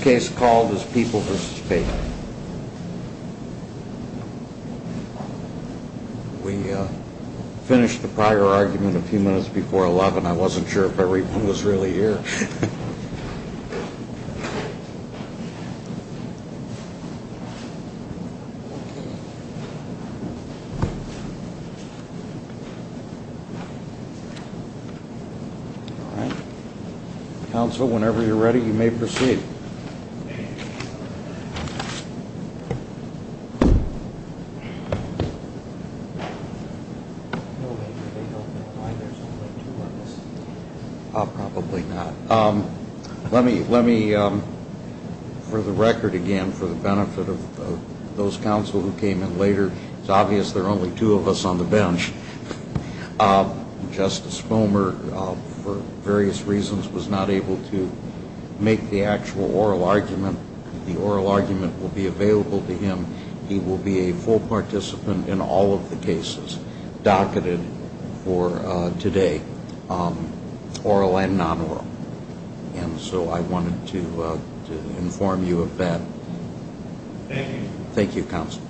We finished the prior argument a few minutes before 11. I wasn't sure if everyone was really here. Council, whenever you're ready, you may proceed. No, Major, they don't know why there's only two of us. Probably not. Let me, for the record again, for the benefit of those council who came in later, it's obvious there are only two of us on the bench. Justice Fomer, for various reasons, was not able to make the actual oral argument. The oral argument will be available to him. He will be a full participant in all of the cases docketed for today, oral and non-oral. And so I wanted to inform you of that. Thank you. Thank you, Council.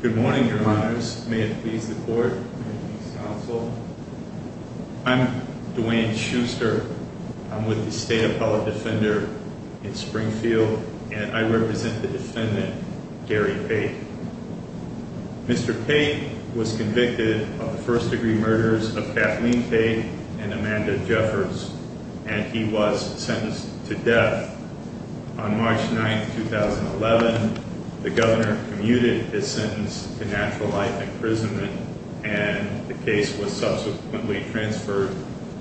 Good morning, Your Honors. May it please the Court and the Council, I'm Dwayne Schuster. I'm with the State Appellate Defender in Springfield, and I represent the defendant, Gary Pate. Mr. Pate was convicted of the first-degree murders of Kathleen Pate and Amanda Jeffers, and he was sentenced to death. On March 9, 2011, the governor commuted his sentence to natural life imprisonment, and the case was subsequently transferred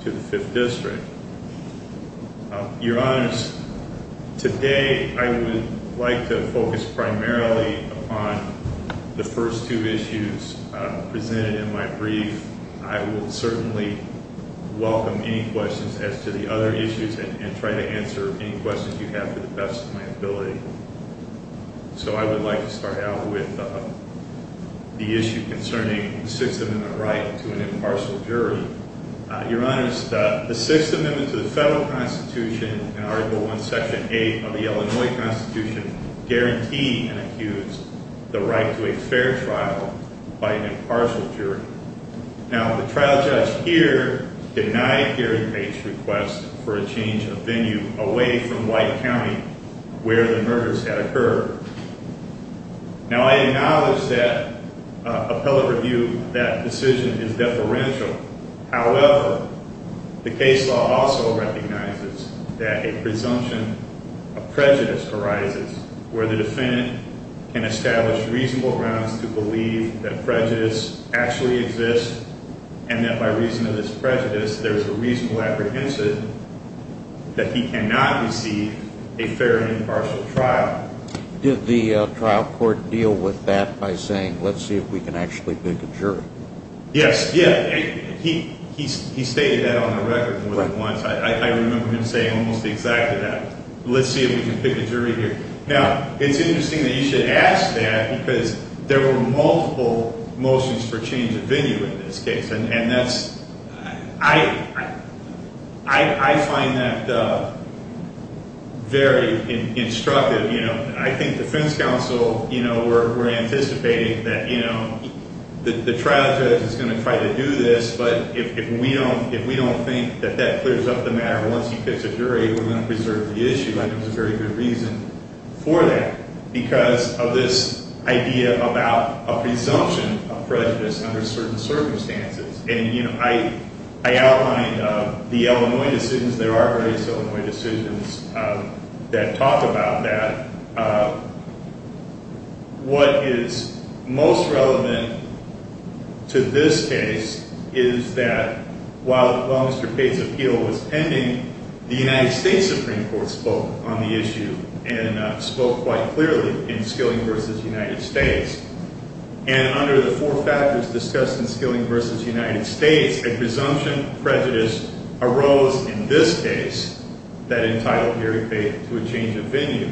to the Fifth District. Your Honors, today I would like to focus primarily upon the first two issues presented in my brief. I will certainly welcome any questions as to the other issues and try to answer any questions you have to the best of my ability. So I would like to start out with the issue concerning the Sixth Amendment right to an impartial jury. Your Honors, the Sixth Amendment to the Federal Constitution and Article I, Section 8 of the Illinois Constitution guarantee and accuse the right to a fair trial by an impartial jury. Now, the trial judge here denied Gary Pate's request for a change of venue away from White County, where the murders had occurred. Now, I acknowledge that appellate review of that decision is deferential. However, the case law also recognizes that a presumption of prejudice arises where the defendant can establish reasonable grounds to believe that prejudice actually exists, and that by reason of this prejudice, there is a reasonable apprehension that he cannot receive a fair and impartial trial. Did the trial court deal with that by saying, let's see if we can actually make a jury? Yes, yeah. He stated that on the record more than once. I remember him saying almost exactly that. Let's see if we can pick a jury here. Now, it's interesting that you should ask that because there were multiple motions for change of venue in this case. And that's – I find that very instructive. I think defense counsel, we're anticipating that the trial judge is going to try to do this, but if we don't think that that clears up the matter once he picks a jury, we're going to preserve the issue. I think there's a very good reason for that because of this idea about a presumption of prejudice under certain circumstances. And, you know, I outlined the Illinois decisions. There are various Illinois decisions that talk about that. What is most relevant to this case is that while Mr. Cate's appeal was pending, the United States Supreme Court spoke on the issue and spoke quite clearly in Skilling v. United States. And under the four factors discussed in Skilling v. United States, a presumption of prejudice arose in this case that entitled Gary Cate to a change of venue.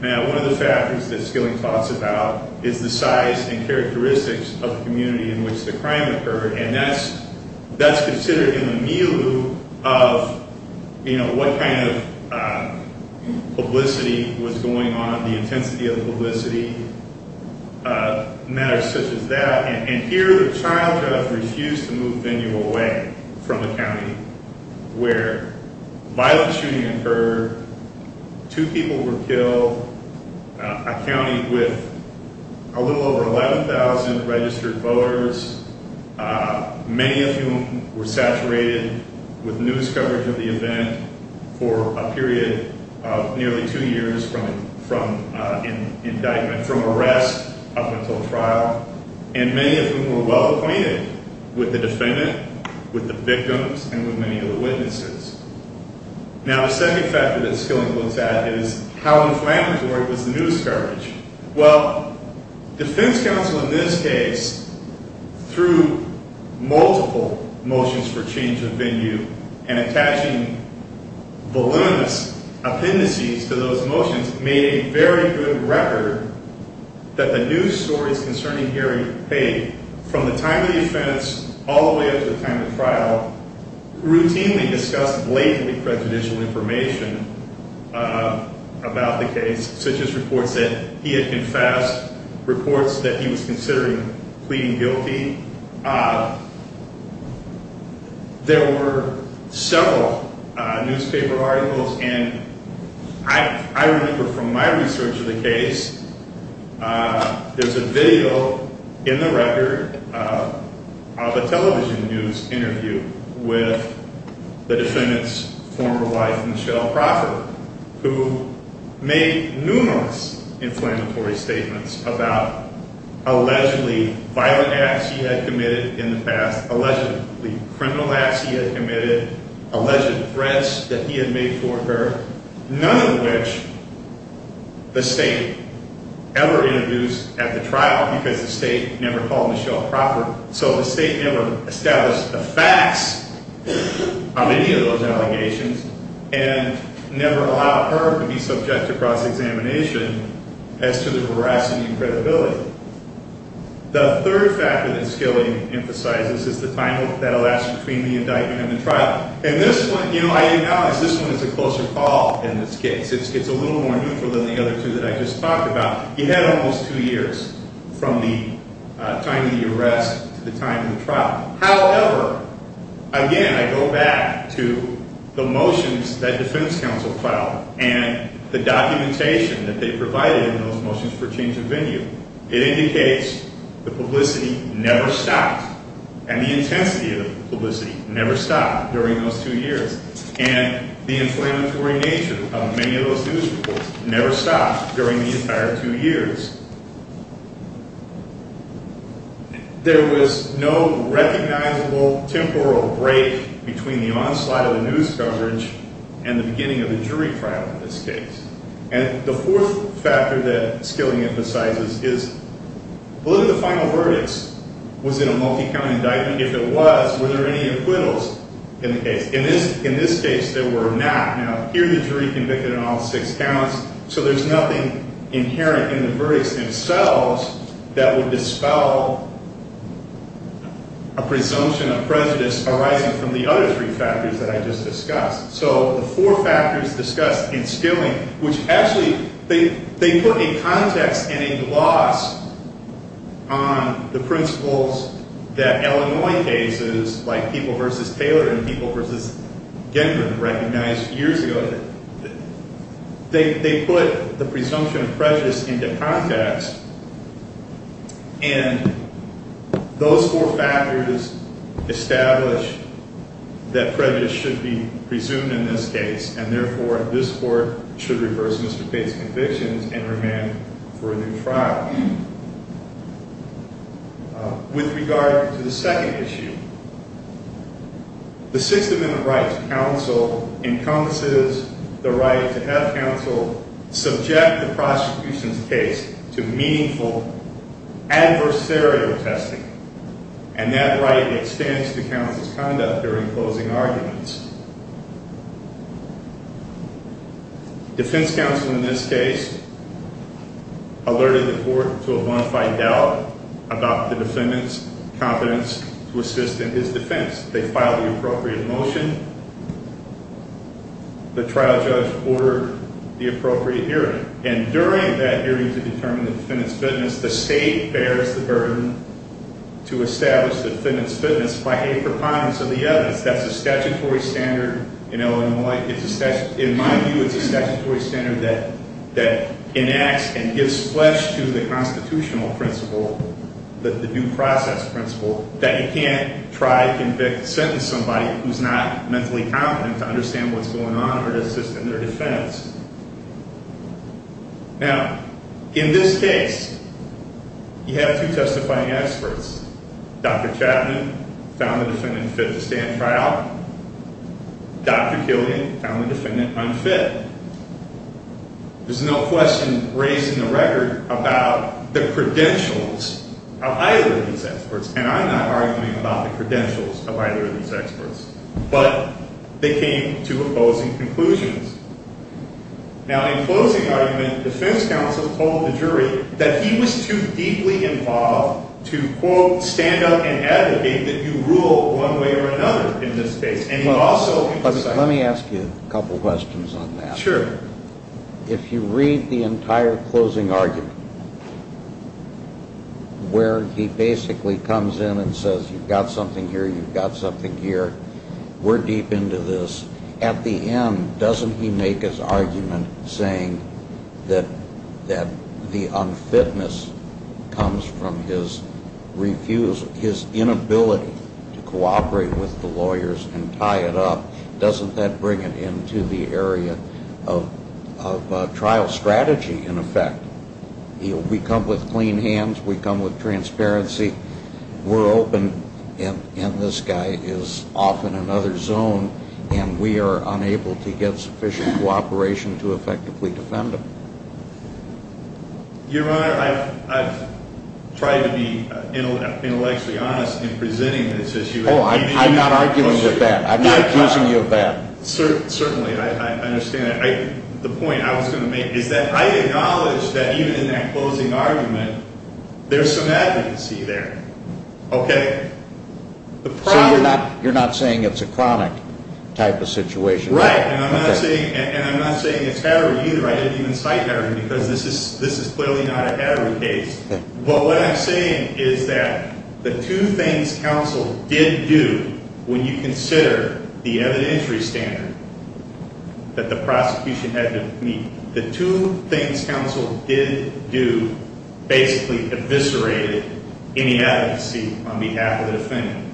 Now, one of the factors that Skilling talks about is the size and characteristics of the community in which the crime occurred. And that's considered in the milieu of, you know, what kind of publicity was going on, the intensity of publicity, matters such as that. And here the trial judge refused to move venue away from the county where violent shooting occurred, two people were killed. A county with a little over 11,000 registered voters, many of whom were saturated with news coverage of the event for a period of nearly two years from indictment, from arrest up until trial, and many of whom were well acquainted with the defendant, with the victims, and with many of the witnesses. Now, the second factor that Skilling looks at is how inflammatory was the news coverage. Well, defense counsel in this case, through multiple motions for change of venue and attaching voluminous appendices to those motions, made a very good record that the news stories concerning Gary Cate from the time of the offense all the way up to the time of trial, routinely discussed blatantly prejudicial information about the case, such as reports that he had confessed, reports that he was considering pleading guilty. There were several newspaper articles, and I remember from my research of the case, there's a video in the record of a television news interview with the defendant's former wife, Michelle Crawford, who made numerous inflammatory statements about allegedly violent acts he had committed in the past, allegedly criminal acts he had committed, alleged threats that he had made for her, none of which the state ever introduced at the trial, because the state never called Michelle Crawford. So the state never established the facts on any of those allegations, and never allowed her to be subject to cross-examination as to the veracity and credibility. The third factor that Skilling emphasizes is the time that elapsed between the indictment and the trial. And this one, you know, I acknowledge this one is a closer call in this case. It's a little more neutral than the other two that I just talked about. You had almost two years from the time of the arrest to the time of the trial. However, again, I go back to the motions that defense counsel filed, and the documentation that they provided in those motions for change of venue. It indicates the publicity never stopped, and the intensity of the publicity never stopped during those two years. And the inflammatory nature of many of those news reports never stopped during the entire two years. There was no recognizable temporal break between the onslaught of the news coverage and the beginning of the jury trial in this case. And the fourth factor that Skilling emphasizes is, look at the final verdicts. Was it a multi-count indictment? If it was, were there any acquittals in the case? In this case, there were not. Now, here the jury convicted on all six counts, so there's nothing inherent in the verdicts themselves that would dispel a presumption of prejudice arising from the other three factors that I just discussed. So the four factors discussed in Skilling, which actually they put a context and a gloss on the principles that Illinois cases like People v. Taylor and People v. Denver recognized years ago. They put the presumption of prejudice into context, and those four factors establish that prejudice should be presumed in this case, and therefore, this court should reverse Mr. Tate's convictions and remand for a new trial. With regard to the second issue, the Sixth Amendment rights counsel encompasses the right to have counsel subject the prosecution's case to meaningful adversarial testing, and that right extends to counsel's conduct during closing arguments. Defense counsel in this case alerted the court to a bona fide doubt about the defendant's competence to assist in his defense. They filed the appropriate motion. The trial judge ordered the appropriate hearing, and during that hearing to determine the defendant's fitness, the state bears the burden to establish the defendant's fitness by a preponderance of the evidence. That's a statutory standard in Illinois. In my view, it's a statutory standard that enacts and gives flesh to the constitutional principle, the due process principle, that you can't try to convict or sentence somebody who's not mentally competent to understand what's going on or to assist in their defense. Now, in this case, you have two testifying experts. Dr. Chapman found the defendant fit to stand trial. Dr. Killian found the defendant unfit. There's no question raised in the record about the credentials of either of these experts, and I'm not arguing about the credentials of either of these experts, but they came to opposing conclusions. Now, in closing argument, defense counsel told the jury that he was too deeply involved to, quote, stand up and advocate that you rule one way or another in this case, and he also... Let me ask you a couple questions on that. Sure. If you read the entire closing argument, where he basically comes in and says, you've got something here, you've got something here, we're deep into this. At the end, doesn't he make his argument saying that the unfitness comes from his refusal, his inability to cooperate with the lawyers and tie it up, doesn't that bring it into the area of trial strategy, in effect? We come with clean hands. We come with transparency. We're open, and this guy is off in another zone, and we are unable to get sufficient cooperation to effectively defend him. Your Honor, I've tried to be intellectually honest in presenting this issue. Oh, I'm not arguing with that. I'm not accusing you of that. Certainly, I understand that. The point I was going to make is that I acknowledge that even in that closing argument, there's some advocacy there, okay? So you're not saying it's a chronic type of situation? Right. And I'm not saying it's Hatterer either. I didn't even cite Hatterer because this is clearly not a Hatterer case. But what I'm saying is that the two things counsel did do when you consider the evidentiary standard that the prosecution had to meet, the two things counsel did do basically eviscerated any advocacy on behalf of the defendant.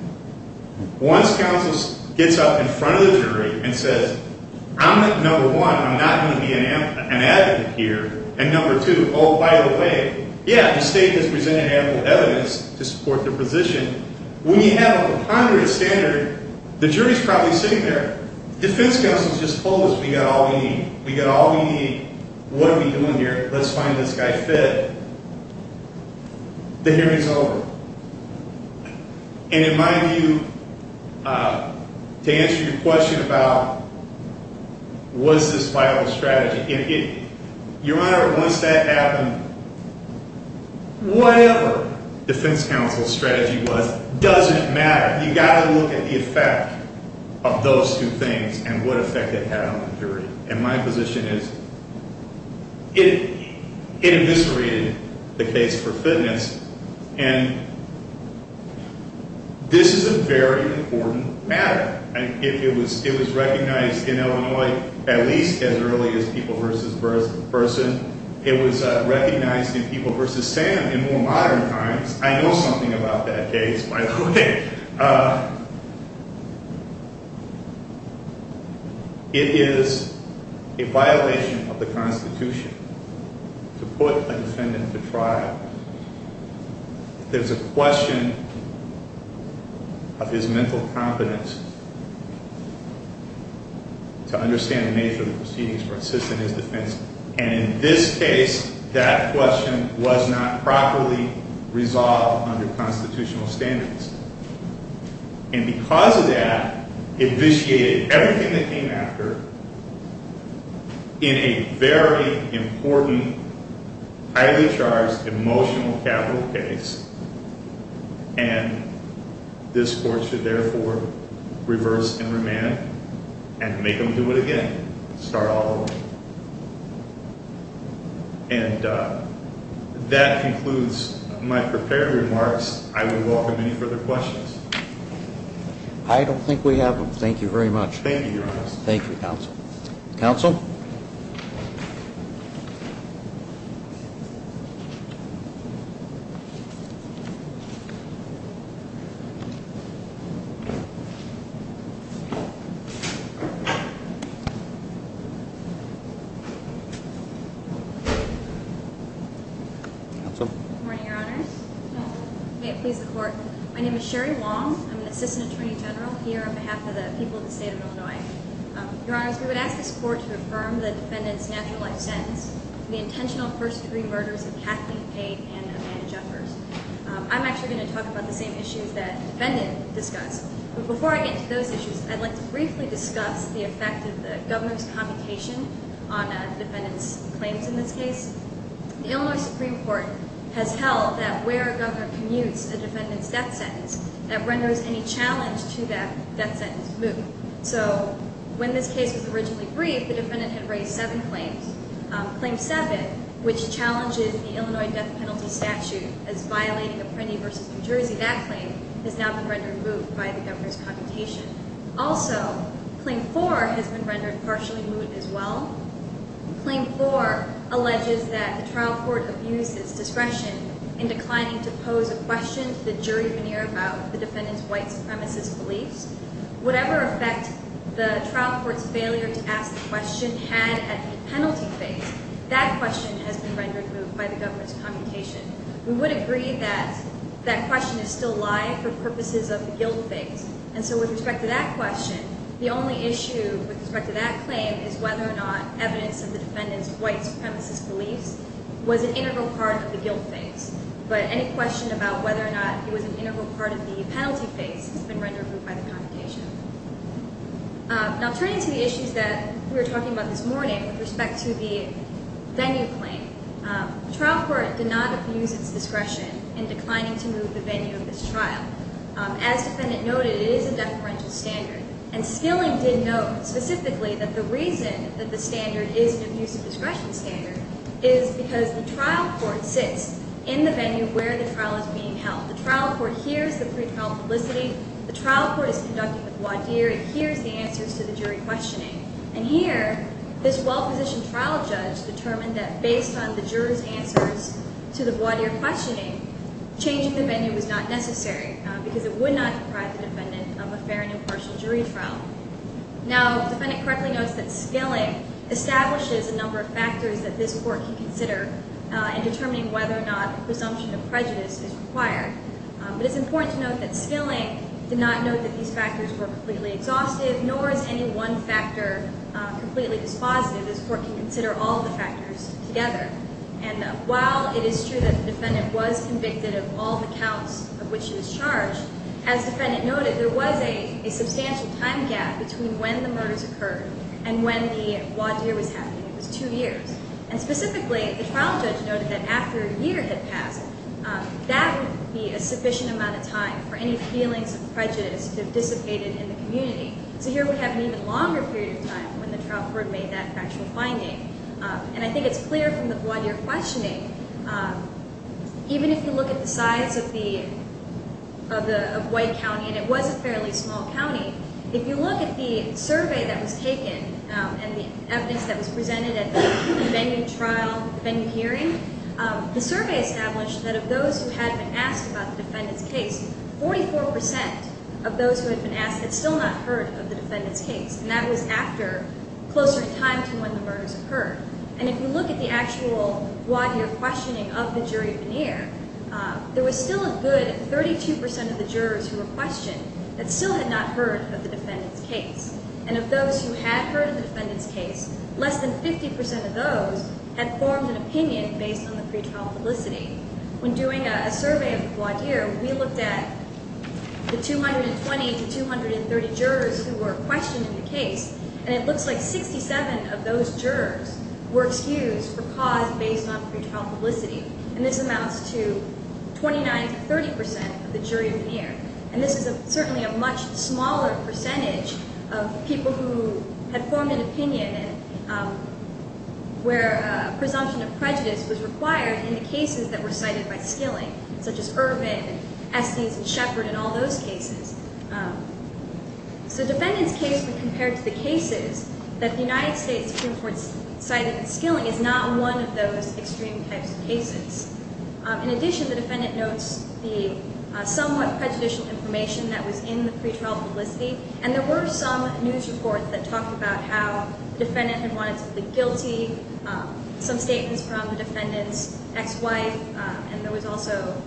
Once counsel gets up in front of the jury and says, I'm number one, I'm not going to be an advocate here, and number two, oh, by the way, yeah, the state has presented ample evidence to support their position. When you have a ponderous standard, the jury's probably sitting there. Defense counsel's just told us we got all we need. We got all we need. What are we doing here? Let's find this guy fit. The hearing's over. And in my view, to answer your question about was this vital strategy, your Honor, once that happened, whatever defense counsel's strategy was doesn't matter. You've got to look at the effect of those two things and what effect it had on the jury. And my position is it eviscerated the case for fitness. And this is a very important matter. It was recognized in Illinois at least as early as people versus person. It was recognized in people versus Sam in more modern times. I know something about that case, by the way. Okay. It is a violation of the Constitution to put a defendant to trial. There's a question of his mental competence to understand the nature of the proceedings for assist in his defense. And in this case, that question was not properly resolved under constitutional standards. And because of that, it eviscerated everything that came after in a very important, highly charged, emotional capital case. And this court should therefore reverse and remand and make them do it again. Start all over. And that concludes my prepared remarks. I would welcome any further questions. I don't think we have them. Thank you very much. Thank you, Your Honor. Thank you, counsel. Counsel? Counsel? Good morning, Your Honor. May it please the court. My name is Sherry Wong. I'm an assistant attorney general here on behalf of the people of the state of Illinois. Your Honor, we would ask this court to affirm the defendant's natural life sentence, the intentional first-degree murders of Kathleen Cade and Amanda Jeffers. I'm actually going to talk about the same issues that the defendant discussed. But before I get to those issues, I'd like to briefly discuss the effect of the governor's commutation on a defendant's claims in this case. The Illinois Supreme Court has held that where a governor commutes a defendant's death sentence, that renders any challenge to that death sentence. So when this case was originally briefed, the defendant had raised seven claims. Claim seven, which challenges the Illinois death penalty statute as violating a pretty versus New Jersey, that claim has now been rendered moot by the governor's commutation. Also, claim four has been rendered partially moot as well. Claim four alleges that the trial court abused its discretion in declining to pose a question to the jury veneer about the defendant's white supremacist beliefs. Whatever effect the trial court's failure to ask the question had at the penalty phase, that question has been rendered moot by the governor's commutation. We would agree that that question is still live for purposes of the guilt phase. And so with respect to that question, the only issue with respect to that claim is whether or not evidence of the defendant's white supremacist beliefs was an integral part of the guilt phase. But any question about whether or not it was an integral part of the penalty phase has been rendered moot by the commutation. Now, turning to the issues that we were talking about this morning with respect to the venue claim, the trial court did not abuse its discretion in declining to move the venue of this trial. As the defendant noted, it is a deferential standard. And Skilling did note specifically that the reason that the standard is an abusive discretion standard is because the trial court sits in the venue where the trial is being held. The trial court hears the pre-trial publicity. The trial court is conducting the voir dire. It hears the answers to the jury questioning. And here, this well-positioned trial judge determined that based on the jurors' answers to the voir dire questioning, changing the venue was not necessary because it would not deprive the defendant of a fair and impartial jury trial. Now, the defendant correctly notes that Skilling establishes a number of factors that this court can consider in determining whether or not a presumption of prejudice is required. But it's important to note that Skilling did not note that these factors were completely exhaustive, nor is any one factor completely dispositive. This court can consider all the factors together. And while it is true that the defendant was convicted of all the counts of which he was charged, as the defendant noted, there was a substantial time gap between when the murders occurred and when the voir dire was happening. It was two years. And specifically, the trial judge noted that after a year had passed, that would be a sufficient amount of time for any feelings of prejudice to have dissipated in the community. So here we have an even longer period of time when the trial court made that factual finding. And I think it's clear from the voir dire questioning, even if you look at the size of White County, and it was a fairly small county, if you look at the survey that was taken and the evidence that was presented at the venue hearing, the survey established that of those who had been asked about the defendant's case, 44% of those who had been asked had still not heard of the defendant's case. And that was after closer in time to when the murders occurred. And if you look at the actual voir dire questioning of the jury veneer, there was still a good 32% of the jurors who were questioned that still had not heard of the defendant's case. And of those who had heard of the defendant's case, less than 50% of those had formed an opinion based on the pretrial publicity. When doing a survey of the voir dire, we looked at the 220 to 230 jurors who were questioned in the case, and it looks like 67 of those jurors were excused for cause based on pretrial publicity. And this amounts to 29 to 30% of the jury veneer. And this is certainly a much smaller percentage of people who had formed an opinion where a presumption of prejudice was required in the cases that were cited by Skilling, such as Urban and Estes and Shepard and all those cases. So the defendant's case, when compared to the cases that the United States Supreme Court cited, Skilling is not one of those extreme types of cases. In addition, the defendant notes the somewhat prejudicial information that was in the pretrial publicity, and there were some news reports that talked about how the defendant had wanted to be guilty, some statements from the defendant's ex-wife, and there was also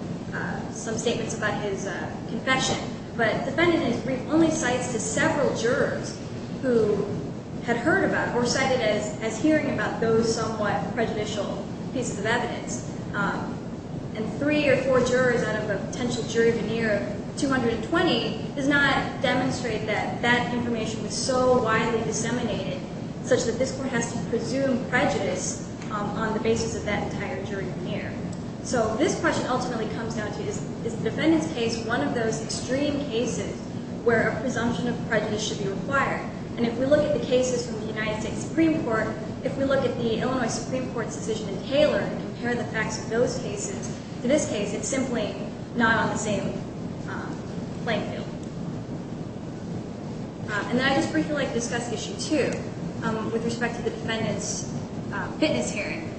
some statements about his confession. But the defendant only cites to several jurors who had heard about or cited as hearing about those somewhat prejudicial pieces of evidence. And three or four jurors out of a potential jury veneer of 220 does not demonstrate that that information was so widely disseminated such that this court has to presume prejudice on the basis of that entire jury veneer. So this question ultimately comes down to, is the defendant's case one of those extreme cases where a presumption of prejudice should be required? And if we look at the cases from the United States Supreme Court, if we look at the Illinois Supreme Court's decision in Taylor and compare the facts of those cases, in this case it's simply not on the same playing field. And then I'd just briefly like to discuss Issue 2 with respect to the defendant's fitness hearing.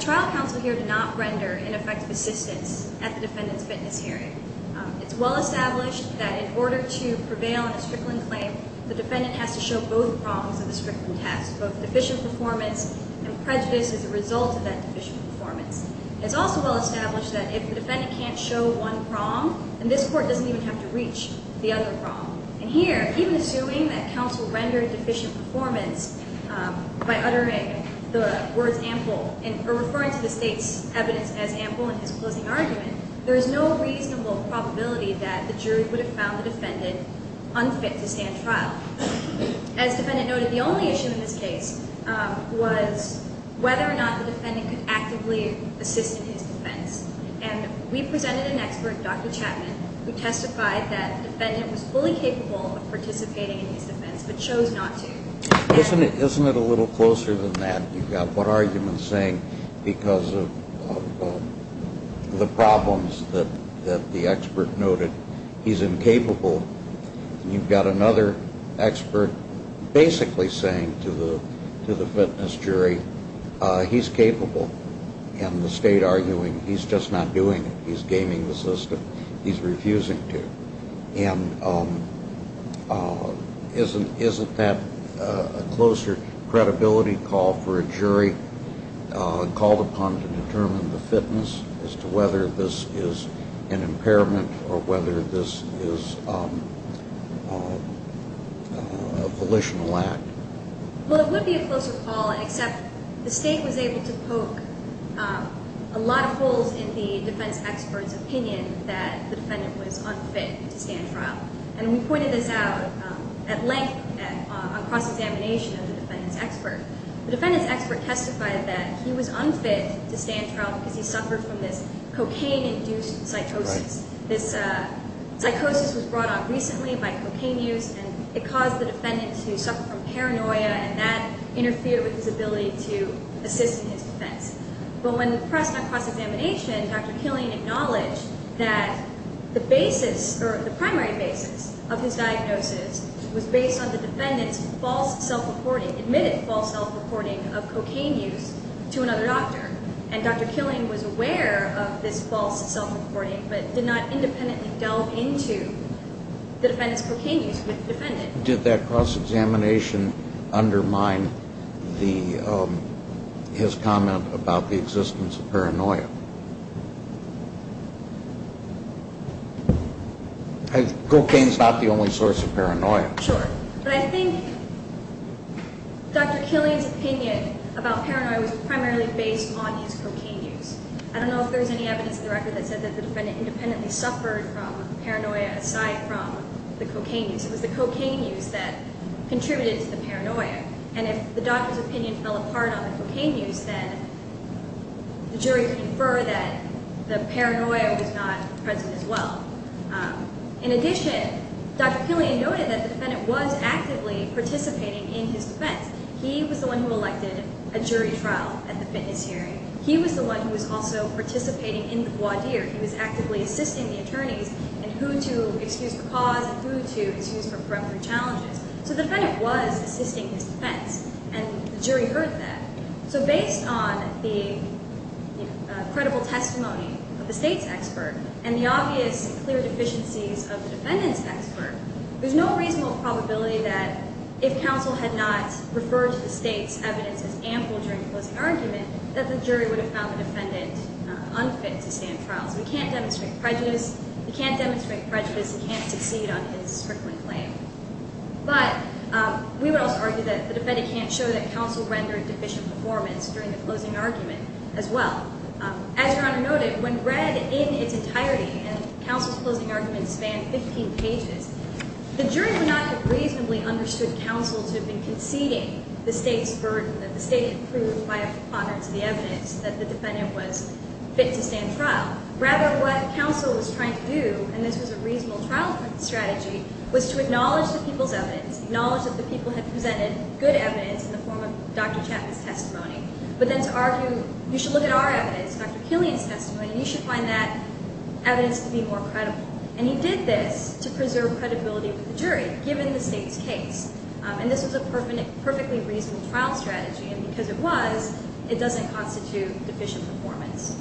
Trial counsel here did not render ineffective assistance at the defendant's fitness hearing. It's well established that in order to prevail in a Strickland claim, the defendant has to show both prongs of the Strickland test, both deficient performance and prejudice as a result of that deficient performance. It's also well established that if the defendant can't show one prong, then this court doesn't even have to reach the other prong. And here, even assuming that counsel rendered deficient performance by uttering the words ample, or referring to the State's evidence as ample in his closing argument, there is no reasonable probability that the jury would have found the defendant unfit to stand trial. As the defendant noted, the only issue in this case was whether or not the defendant could actively assist in his defense. And we presented an expert, Dr. Chapman, who testified that the defendant was fully capable of participating in his defense, but chose not to. Isn't it a little closer than that? You've got one argument saying because of the problems that the expert noted, he's incapable. You've got another expert basically saying to the fitness jury, he's capable. And the State arguing, he's just not doing it. He's gaming the system. He's refusing to. And isn't that a closer credibility call for a jury called upon to determine the fitness as to whether this is an impairment or whether this is a volitional act? Well, it would be a closer call, except the State was able to poke a lot of holes in the defense expert's opinion that the defendant was unfit to stand trial. And we pointed this out at length on cross-examination of the defendant's expert. The defendant's expert testified that he was unfit to stand trial because he suffered from this cocaine-induced psychosis. This psychosis was brought on recently by cocaine use, and it caused the defendant to suffer from paranoia, and that interfered with his ability to assist in his defense. But when pressed on cross-examination, Dr. Killian acknowledged that the primary basis of his diagnosis was based on the defendant's false self-reporting, admitted false self-reporting of cocaine use to another doctor. And Dr. Killian was aware of this false self-reporting but did not independently delve into the defendant's cocaine use with the defendant. Did that cross-examination undermine his comment about the existence of paranoia? Cocaine is not the only source of paranoia. Sure. But I think Dr. Killian's opinion about paranoia was primarily based on his cocaine use. I don't know if there's any evidence in the record that said that the defendant independently suffered from paranoia aside from the cocaine use. It was the cocaine use that contributed to the paranoia. And if the doctor's opinion fell apart on the cocaine use, then the jury could infer that the paranoia was not present as well. In addition, Dr. Killian noted that the defendant was actively participating in his defense. He was the one who elected a jury trial at the fitness hearing. He was the one who was also participating in the voir dire. He was actively assisting the attorneys in who to excuse for cause and who to excuse for preeminent challenges. So the defendant was assisting his defense, and the jury heard that. So based on the credible testimony of the state's expert and the obvious clear deficiencies of the defendant's expert, there's no reasonable probability that if counsel had not referred to the state's evidence as ample during the closing argument, that the jury would have found the defendant unfit to stand trial. So we can't demonstrate prejudice. We can't demonstrate prejudice. We can't succeed on his strickling claim. But we would also argue that the defendant can't show that counsel rendered deficient performance during the closing argument as well. As Your Honor noted, when read in its entirety, and counsel's closing argument spanned 15 pages, the jury would not have reasonably understood counsel to have been conceding the state's burden, that the state had proved by a ponderance of the evidence that the defendant was fit to stand trial. Rather, what counsel was trying to do, and this was a reasonable trial strategy, was to acknowledge the people's evidence, acknowledge that the people had presented good evidence in the form of Dr. Chapman's testimony, but then to argue, you should look at our evidence, Dr. Killian's testimony, and you should find that evidence to be more credible. And he did this to preserve credibility with the jury, given the state's case. And this was a perfectly reasonable trial strategy, and because it was, it doesn't constitute deficient performance.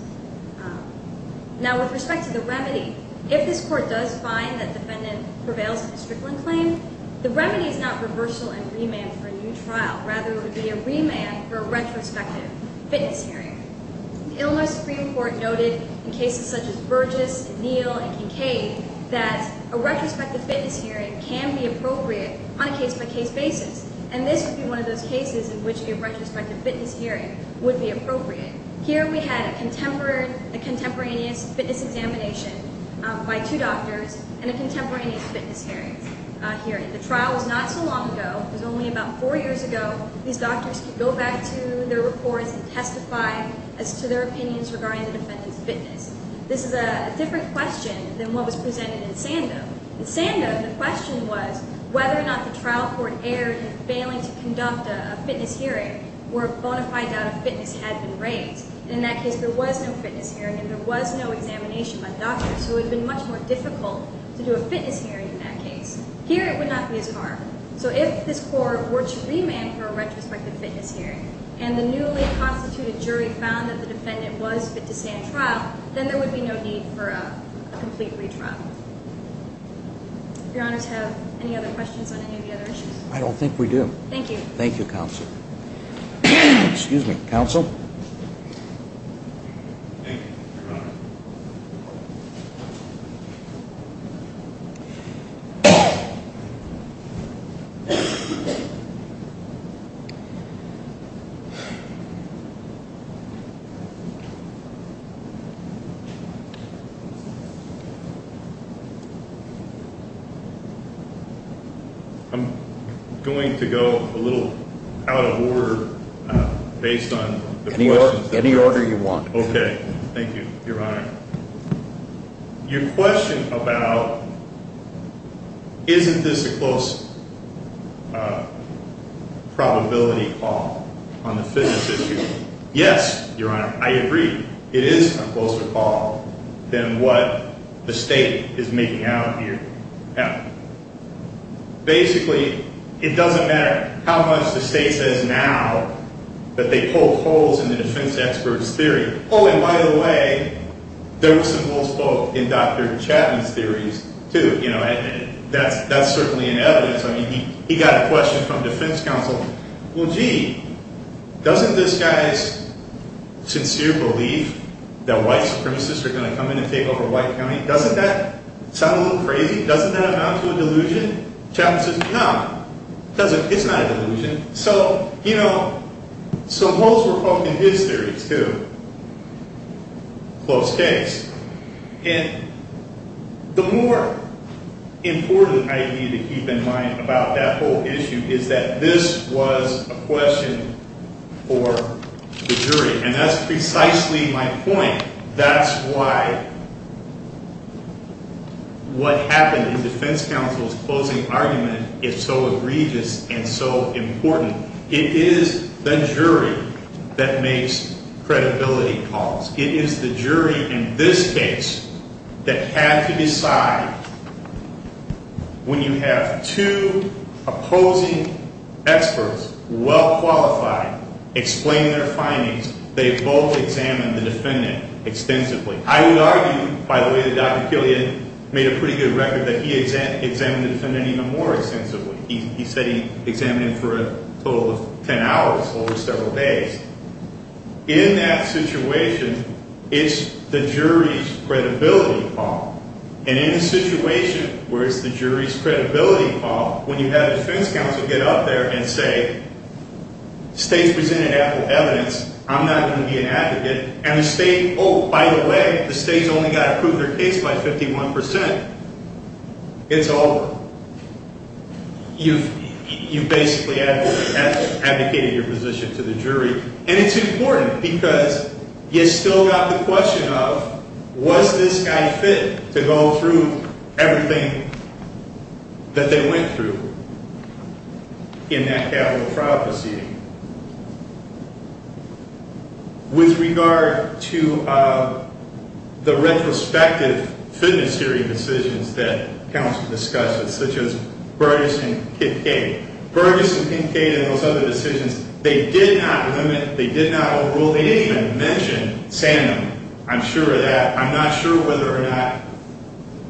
Now, with respect to the remedy, if this Court does find that the defendant prevails in the strickling claim, the remedy is not reversal and remand for a new trial. Rather, it would be a remand for a retrospective fitness hearing. The Illinois Supreme Court noted in cases such as Burgess and Neal and Kincaid that a retrospective fitness hearing can be appropriate on a case-by-case basis, and this would be one of those cases in which a retrospective fitness hearing would be appropriate. Here we had a contemporaneous fitness examination by two doctors and a contemporaneous fitness hearing. The trial was not so long ago. It was only about four years ago. These doctors could go back to their reports and testify as to their opinions regarding the defendant's fitness. This is a different question than what was presented in Sando. In Sando, the question was whether or not the trial court erred in failing to conduct a fitness hearing or a bona fide doubt of fitness had been raised. In that case, there was no fitness hearing and there was no examination by doctors, so it would have been much more difficult to do a fitness hearing in that case. Here, it would not be as hard. So if this Court were to remand for a retrospective fitness hearing, and the newly-constituted jury found that the defendant was fit to stand trial, then there would be no need for a complete retrial. Do Your Honors have any other questions on any of the other issues? I don't think we do. Thank you. Thank you, Counsel. Excuse me. Counsel? I'm going to go a little out of order based on the questions. Any order you want. Okay. Thank you, Your Honor. Your question about isn't this a close probability call on the fitness issue. Yes, Your Honor, I agree. It is a closer call than what the State is making out here. Basically, it doesn't matter how much the State says now that they pulled holes in the defense expert's theory. Oh, and by the way, there were some holes pulled in Dr. Chapman's theories, too. That's certainly in evidence. I mean, he got a question from defense counsel. Well, gee, doesn't this guy's sincere belief that white supremacists are going to come in and take over white county, doesn't that sound a little crazy? Doesn't that amount to a delusion? Chapman says, no, it's not a delusion. So, you know, some holes were poked in his theories, too. Close case. And the more important idea to keep in mind about that whole issue is that this was a question for the jury. And that's precisely my point. That's why what happened in defense counsel's closing argument is so egregious and so important. It is the jury that makes credibility calls. It is the jury in this case that had to decide when you have two opposing experts, well-qualified, explain their findings, they both examined the defendant extensively. I would argue, by the way, that Dr. Killian made a pretty good record that he examined the defendant even more extensively. He said he examined him for a total of ten hours over several days. In that situation, it's the jury's credibility call. And in a situation where it's the jury's credibility call, when you have defense counsel get up there and say, the state's presented ample evidence. I'm not going to be an advocate. And the state, oh, by the way, the state's only got to prove their case by 51 percent. It's over. You've basically advocated your position to the jury. And it's important because you've still got the question of, was this guy fit to go through everything that they went through in that capital trial proceeding? With regard to the retrospective fitness jury decisions that counsel discussed, such as Burgess and Kincaid, Burgess and Kincaid and those other decisions, they did not limit, they did not overrule. They didn't even mention Sanam. I'm sure of that. I'm not sure whether or not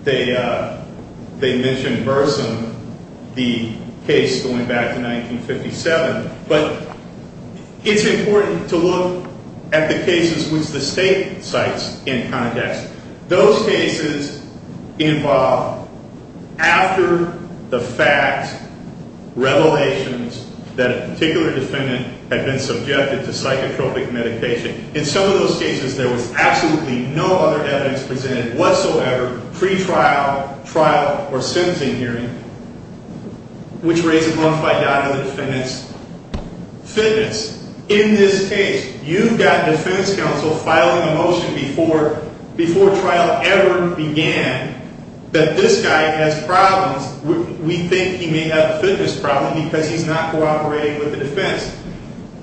they mentioned Burson, the case going back to 1957. But it's important to look at the cases which the state cites in context. Those cases involve, after the facts, revelations that a particular defendant had been subjected to psychotropic medication, in some of those cases there was absolutely no other evidence presented whatsoever, pre-trial, trial, or sentencing hearing, which raises one fight down to the defendant's fitness. In this case, you've got defense counsel filing a motion before trial ever began that this guy has problems. We think he may have a fitness problem because he's not cooperating with the defense.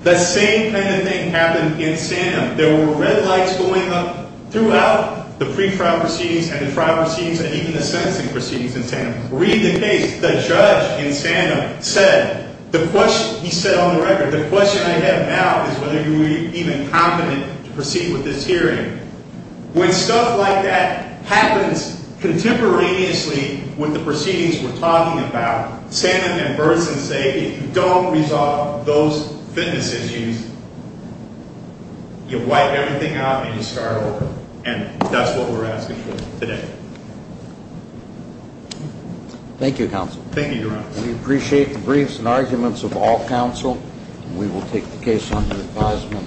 The same kind of thing happened in Sanam. There were red lights going up throughout the pre-trial proceedings and the trial proceedings and even the sentencing proceedings in Sanam. Read the case. The judge in Sanam said, he said on the record, the question I have now is whether you would be even competent to proceed with this hearing. When stuff like that happens contemporaneously with the proceedings we're talking about, Sanam and Burson say, if you don't resolve those fitness issues, you wipe everything out and you start over. And that's what we're asking for today. Thank you, counsel. Thank you, Your Honor. We appreciate the briefs and arguments of all counsel. We will take the case under advisement.